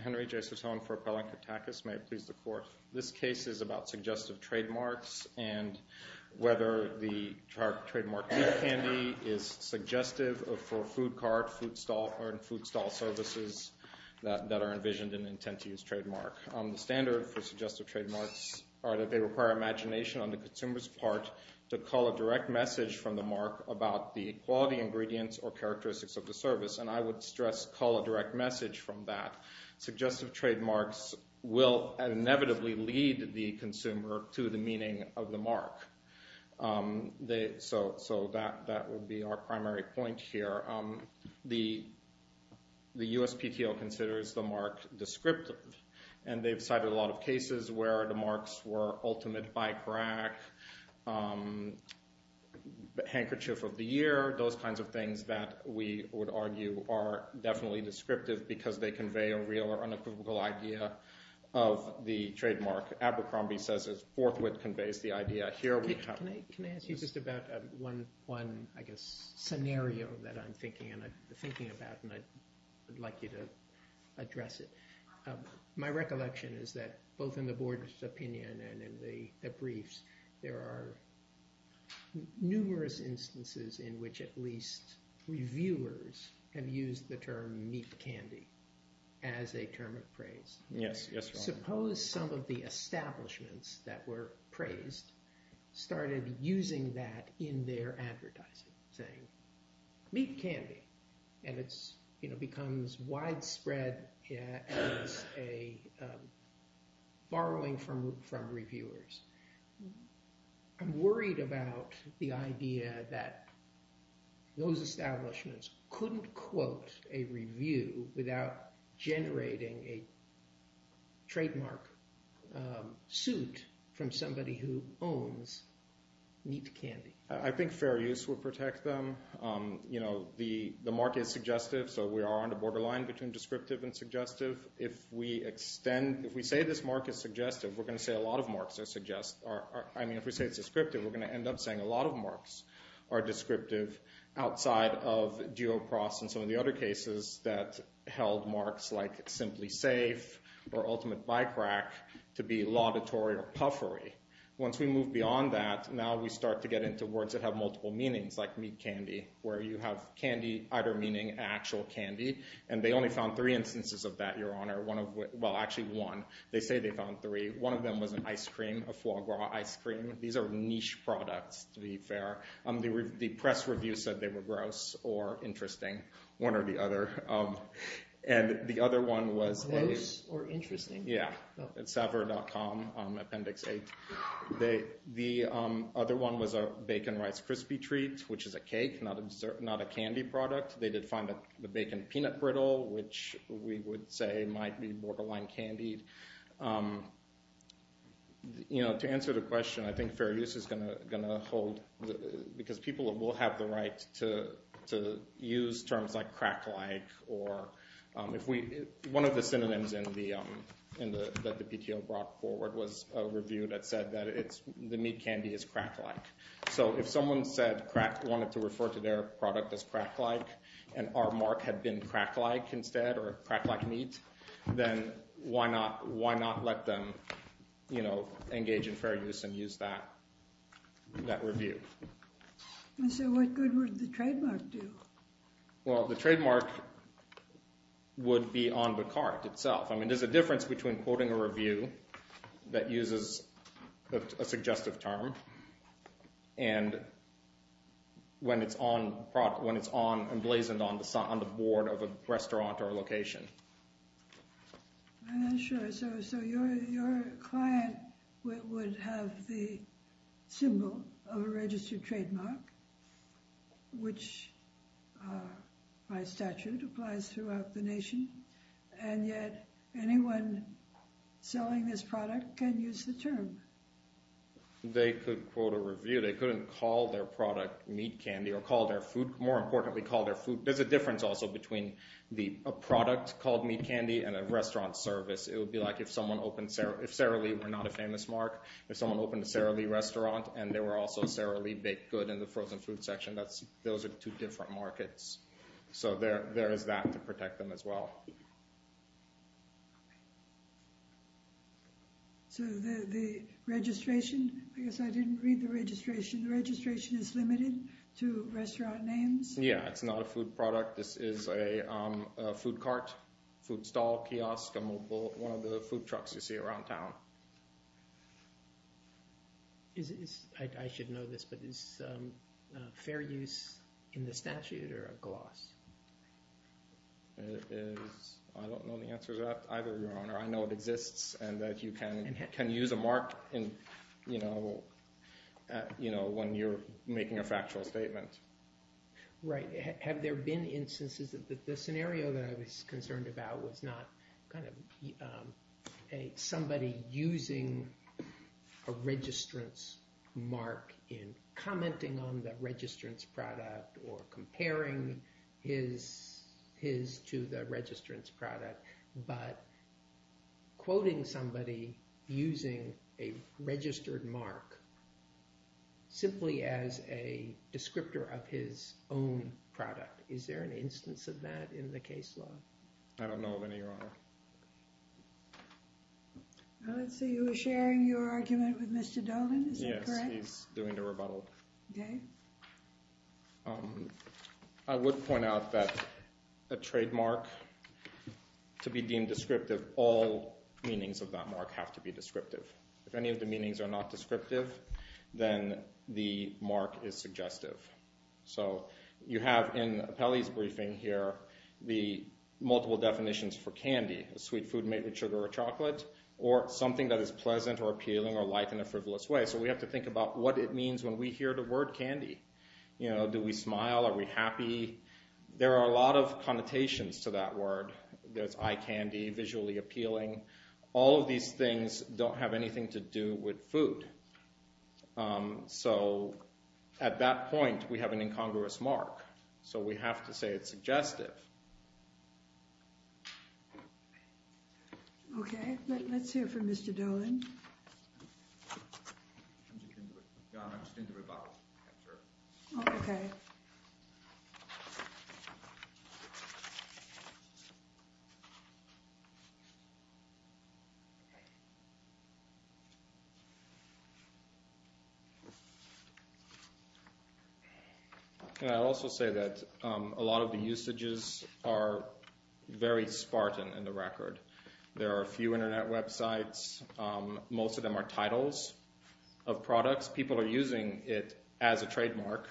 Henry J. Suttone for Appellant Katakis. May it please the Court, this case is about suggestive trademarks and whether the trademark tooth candy is suggestive for food cart, food stall services that are envisioned and intend to use trademark. The standard for suggestive trademarks are that they require imagination on the consumer's part to call a direct message from the mark about the quality ingredients or characteristics of the service. And I would stress call a direct message from that. Suggestive trademarks will inevitably lead the consumer to the meaning of the mark. So that would be our primary point here. The USPTO considers the mark descriptive and they've cited a lot of cases where the marks were ultimate bike rack, handkerchief of the year, those kinds of things that we would argue are definitely descriptive because they convey a real or unequivocal idea of the trademark. Abercrombie says it's forthwith conveys the idea here. Can I ask you just about one, I guess, scenario that I'm thinking about and I'd like you to address it. My recollection is that both in the board's opinion and in the briefs, there are numerous instances in which at least reviewers have used the term meat candy as a term of praise. Suppose some of the establishments that were praised started using that in their advertising, saying meat candy. And it becomes widespread as a borrowing from reviewers. I'm worried about the idea that those establishments couldn't quote a review without generating a trademark suit from somebody who owns meat candy. I think fair use would protect them. The mark is suggestive, so we are on the borderline between descriptive and suggestive. If we say this mark is descriptive, we're going to say a lot of marks are suggestive. I mean, if we say it's descriptive, we're going to end up saying a lot of marks are descriptive outside of Duopross and some of the other cases that held marks like simply safe or ultimate bike rack to be laudatory or puffery. Once we move beyond that, now we start to get into words that have multiple meanings like meat candy, where you have candy either meaning actual candy. And they only found three instances of that, Your Honor. Well, actually one. They say they found three. One of them was an ice cream, a foie gras ice cream. These are niche products, to be fair. The press review said they were gross or interesting, one or the other. And the other one was a gross or interesting. Yeah, at saver.com, appendix 8. The other one was a bacon rice crispy treat, which is a cake, not a candy product. They did find the bacon peanut brittle, which we would say might be borderline candy. To answer the question, I think fair use is going to hold, because people will have the right to use terms like crack-like. One of the synonyms that the PTO brought forward was a review that said that the meat candy is crack-like. So if someone wanted to refer to their product as crack-like, and our mark had been crack-like instead, or crack-like meat, then why not let them engage in fair use and use that review? So what good would the trademark do? Well, the trademark would be on the cart itself. I mean, there's a difference between quoting a review that uses a suggestive term and when it's emblazoned on the board of a restaurant or a location. I'm not sure. So your client would have the symbol of a registered trademark, which by statute applies throughout the nation, and yet anyone selling this product can use the trademark. So they could quote a review. They couldn't call their product meat candy or call their food. More importantly, call their food. There's a difference also between a product called meat candy and a restaurant service. It would be like if Sara Lee were not a famous mark, if someone opened a Sara Lee restaurant and there were also Sara Lee baked good in the frozen food section, those are two different markets. So there is that to protect them as well. So the registration, I guess I didn't read the registration. The registration is limited to restaurant names? Yeah, it's not a food product. This is a food cart, food stall, kiosk, a mobile, one of the food trucks you see around town. I should know this, but is fair use in the statute or a gloss? I don't know the answer to that either, Your Honor. I know it exists and that you can use a mark when you're making a factual statement. Have there been instances that the scenario that I was concerned about was not somebody using a registrant's mark in commenting on the registrant's product or comparing his to the registrant's product, but quoting somebody using a registered mark simply as a descriptor of his own product. Is there an instance of that in the case law? I don't know of any, Your Honor. I see you were sharing your argument with Mr. Dolan, is that correct? Yes, he's doing the rebuttal. Okay. I would point out that a trademark, to be deemed descriptive, all meanings of that mark have to be descriptive. If any of the meanings are not descriptive, then the mark is suggestive. You have in Appelli's briefing here the multiple definitions for candy, a sweet food made with sugar or chocolate, or something that is pleasant or appealing or light in a frivolous way. We have to think about what it means when we hear the word candy. Do we smile? Are we happy? There are a lot of connotations to that word. There's eye candy, visually appealing. All of these things don't have anything to do with food. At that point, we have an incongruous mark, so we have to say it's suggestive. Okay, let's hear from Mr. Dolan. Your Honor, I'm just doing the rebuttal. Okay. I'd also say that a lot of the usages are very spartan in the record. There are a few internet websites. Most of them are titles of products. People are using it as a trademark.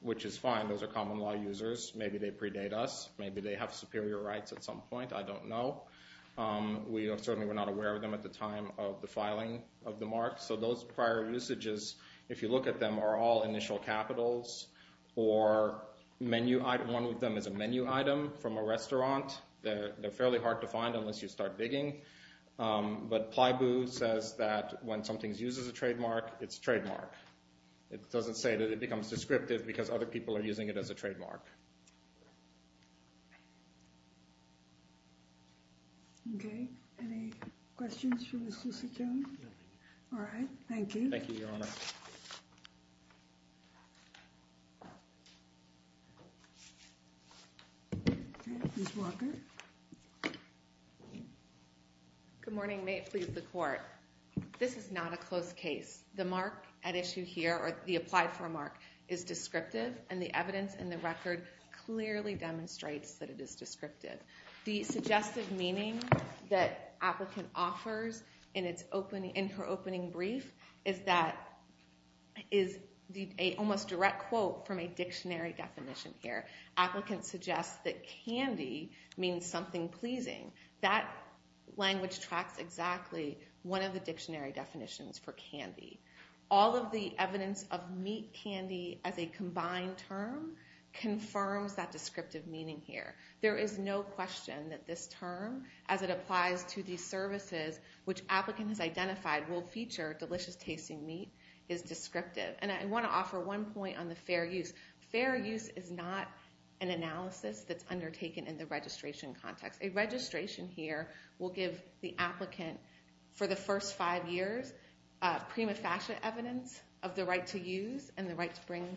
Which is fine. Those are common law users. Maybe they predate us. Maybe they have superior rights at some point. I don't know. We certainly were not aware of them at the time of the filing of the mark. So those prior usages, if you look at them, are all initial capitals or menu item. One of them is a menu item from a restaurant. They're fairly hard to find unless you start digging. But Plyboo says that when something is used as a trademark, it's a trademark. It doesn't say that it becomes descriptive because other people are using it as a trademark. Okay. Any questions for Ms. Lusitano? All right. Thank you. Thank you, Your Honor. Ms. Walker. Good morning. May it please the Court. This is not a closed case. The mark at issue here, or the applied for mark, is descriptive. And the evidence in the record clearly demonstrates that it is descriptive. The suggestive meaning that applicant offers in her opening brief is that, is almost a direct quote from a dictionary definition here. Applicant suggests that candy means something pleasing. That language tracks exactly one of the dictionary definitions for candy. All of the evidence of meat candy as a combined term confirms that descriptive meaning here. There is no question that this term, as it applies to these services which applicant has identified will feature delicious tasting meat, is descriptive. And I want to go back to the registration context. A registration here will give the applicant, for the first five years, prima facie evidence of the right to use and the right to bring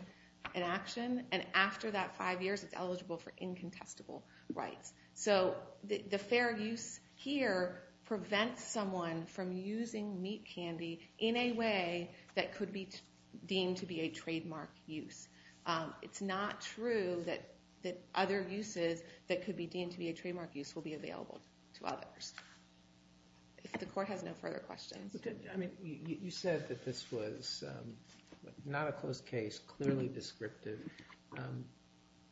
an action. And after that five years, it's eligible for incontestable rights. So the fair use here prevents someone from using meat candy in a way that could be deemed to be a trademark use. It's not true that other uses that could be deemed to be a trademark use will be available to others. If the court has no further questions. You said that this was not a closed case, clearly descriptive.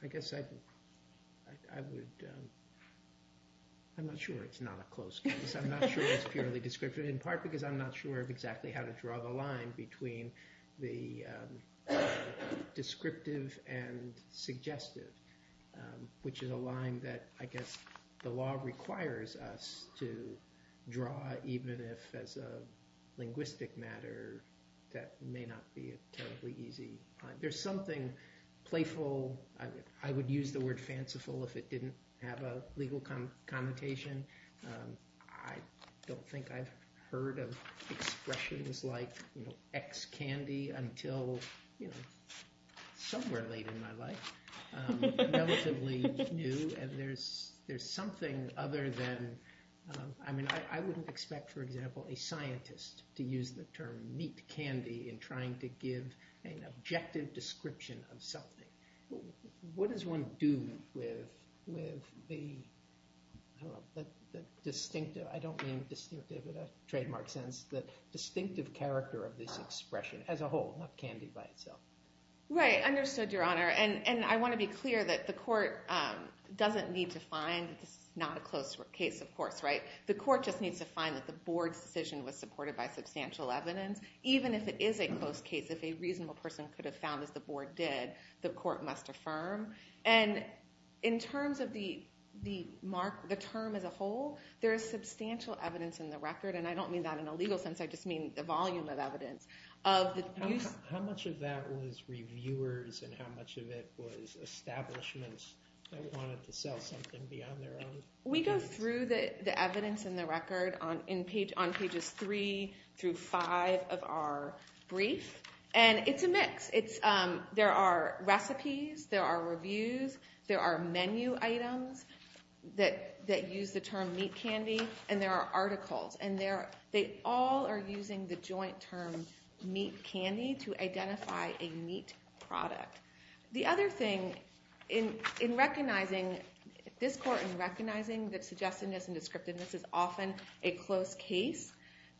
I guess I would, I'm not sure it's not a closed case. I'm not sure it's purely descriptive, in part because I'm not sure of exactly how to draw the line between the descriptive and suggestive, which is a line that I guess the law requires us to draw, even if as a linguistic matter that may not be a terribly easy. There's something playful, I would use the word fanciful if it didn't have a legal connotation. I don't think I've heard of expressions like ex-candy until somewhere late in my life. Relatively new, and there's something other than, I mean I wouldn't expect, for example, a scientist to use the term meat candy in trying to give an objective description of something. What does one do with the distinctive, I don't mean distinctive in a trademark sense, the distinctive character of this expression as a whole, not candy by itself. Right, understood, your honor, and I want to be clear that the court doesn't need to find that this is not a closed case, of course, right? The court just needs to find that the board's decision was supported by substantial evidence, even if it is a closed case, if a reasonable person could have found that the board did, the court must affirm. And in terms of the term as a whole, there is substantial evidence in the record, and I don't mean that in a legal sense, I just mean the volume of evidence. How much of that was reviewers and how much of it was establishments that wanted to sell something beyond their own? We go through the evidence in the record on pages three through five of our brief, and it's a mix. There are recipes, there are reviews, there are menu items that use the term meat candy, and there are articles, and they all are using the joint term meat candy to identify a meat product. The other thing in recognizing, this court in recognizing that suggestedness and descriptiveness is often a closed case,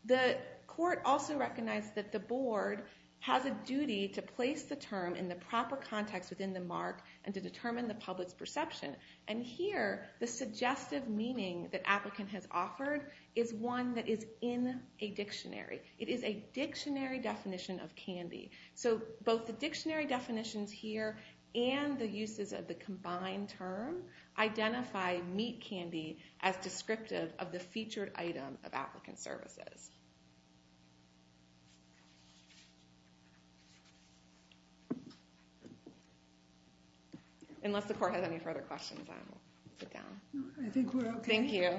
the court also recognized that the board has a duty to place the term in the proper context within the mark and to determine the public's perception. And here, the suggestive meaning that applicant has offered is one that is in a dictionary. It is a dictionary definition of candy. So both the dictionary definitions here and the uses of the combined term identify meat candy as descriptive of the featured item of applicant services. Unless the court has any further questions, I will sit down. I think we're okay. Thank you.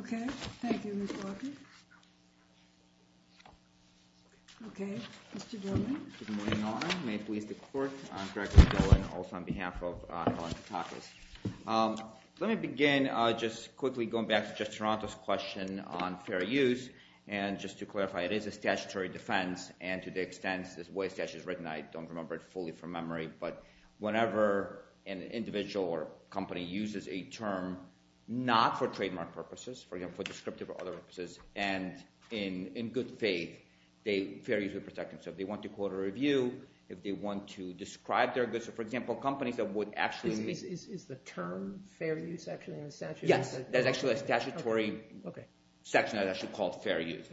Okay. Thank you, Ms. Walker. Okay, Mr. Dillon. Good morning, Your Honor. May it please the court, I'm Gregory Dillon, also on behalf of Helen Tatakis. Let me begin just quickly going back to Judge Toronto's question on fair use, and just to clarify, it is a statutory defense, and to the extent this way it's statutorily written, I don't remember it fully from memory, but whenever an individual or company uses a term not for trademark purposes, for example, but descriptive of other purposes, and in good faith, fair use would protect them. So if they want to quote a review, if they want to describe their goods, for example, companies that would actually... Is the term fair use actually in the statute? Yes. There's actually a statutory section that's actually called fair use.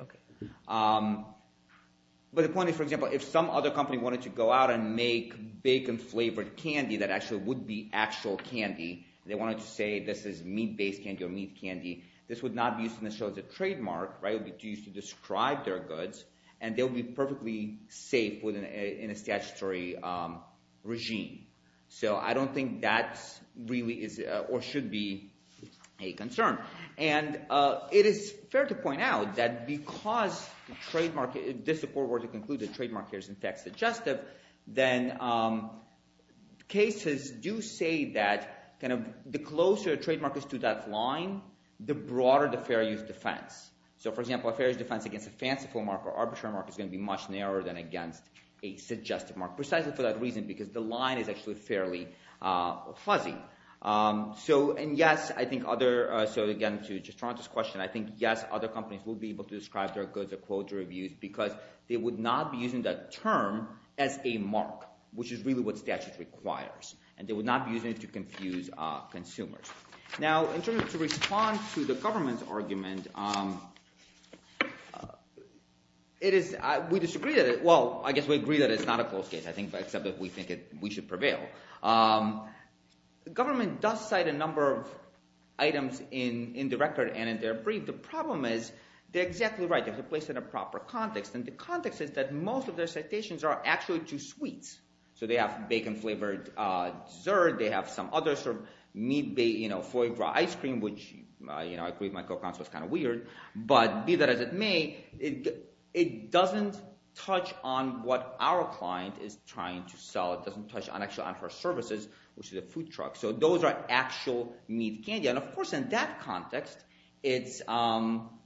But the point is, for example, if some other company wanted to go out and make bacon-flavored candy that actually would be actual candy, and they wanted to say this is meat-based candy or meat candy, this would not be used necessarily as a trademark, right? It would be used to describe their goods, and they'll be perfectly safe within a statutory regime. So I don't think that really is or should be a concern. And it is fair to point out that because the trademark... If this court were to conclude that trademark here is, in fact, suggestive, then cases do say that the closer the trademark is to that line, the broader the fair use defense. So for example, a fair use defense against a fanciful mark or arbitrary mark is going to be much narrower than against a suggestive mark, precisely for that reason, because the line is actually fairly fuzzy. And yes, I think other... So again, to just draw on this question, I think yes, other companies will be able to describe their goods or quotes or reviews because they would not be using that term as a mark, which is really what confuse consumers. Now, in terms of to respond to the government's argument, it is... We disagree that it... Well, I guess we agree that it's not a close case, I think, except that we think we should prevail. The government does cite a number of items in the record and in their brief. The problem is they're exactly right. They're placed in a proper context, and the context is that most of their citations are actually too sweet. So they have bacon-flavored dessert, they have some other sort of meat-based, you know, foie gras ice cream, which, you know, I agree with my co-consultant, it's kind of weird, but be that as it may, it doesn't touch on what our client is trying to sell. It doesn't touch on actual on-first services, which is a food truck. So those are actual meat candy. And of course, in that context, it's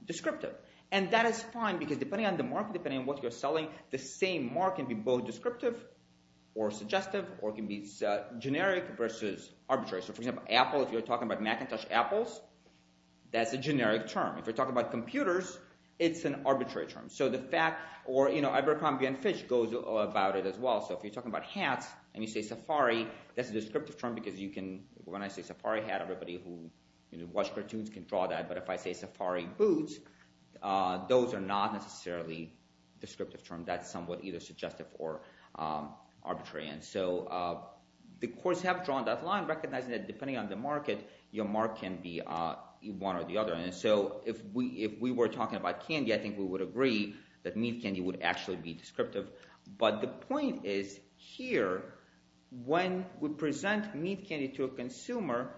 descriptive. And that is fine, because depending on the market, depending on what you're selling, the same mark can be both descriptive or suggestive, or it can be generic versus arbitrary. So, for example, Apple, if you're talking about Macintosh Apples, that's a generic term. If you're talking about computers, it's an arbitrary term. So the fact... Or, you know, Abercrombie & Fitch goes about it as well. So if you're talking about hats, and you say Safari, that's a descriptive term, because you can... When I say Safari boots, those are not necessarily descriptive terms. That's somewhat either suggestive or arbitrary. And so the courts have drawn that line, recognizing that depending on the market, your mark can be one or the other. And so if we were talking about candy, I think we would agree that meat candy would actually be descriptive. But the point is here, when we present meat candy to a consumer,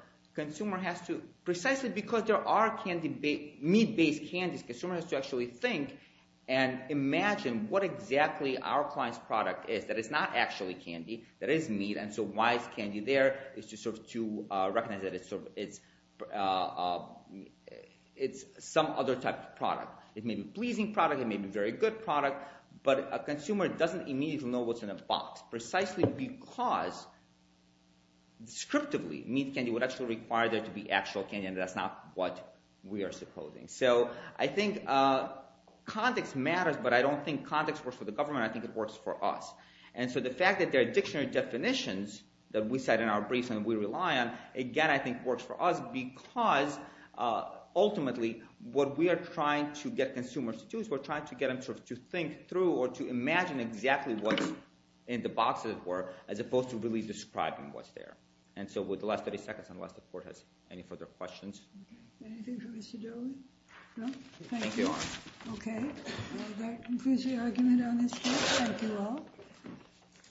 precisely because there are meat-based candies, the consumer has to actually think and imagine what exactly our client's product is that is not actually candy, that is meat. And so why is candy there? It's just to recognize that it's some other type of product. It may be a pleasing product, it may be a very good product, but a consumer doesn't immediately know what's in a box, precisely because descriptively, meat candy would actually require there to be actual candy, and that's not what we are supposing. So I think context matters, but I don't think context works for the government, I think it works for us. And so the fact that there are dictionary definitions that we set in our briefs and we rely on, again, I think works for us, because ultimately, what we are trying to get consumers to do is we're trying to get them to think through or to imagine exactly what's in the boxes were, as opposed to really describing what's there. And so with the last 30 seconds, unless the court has any further questions. Anything for Mr. Daly? No? Thank you. Okay, that concludes the argument on this case. Thank you all.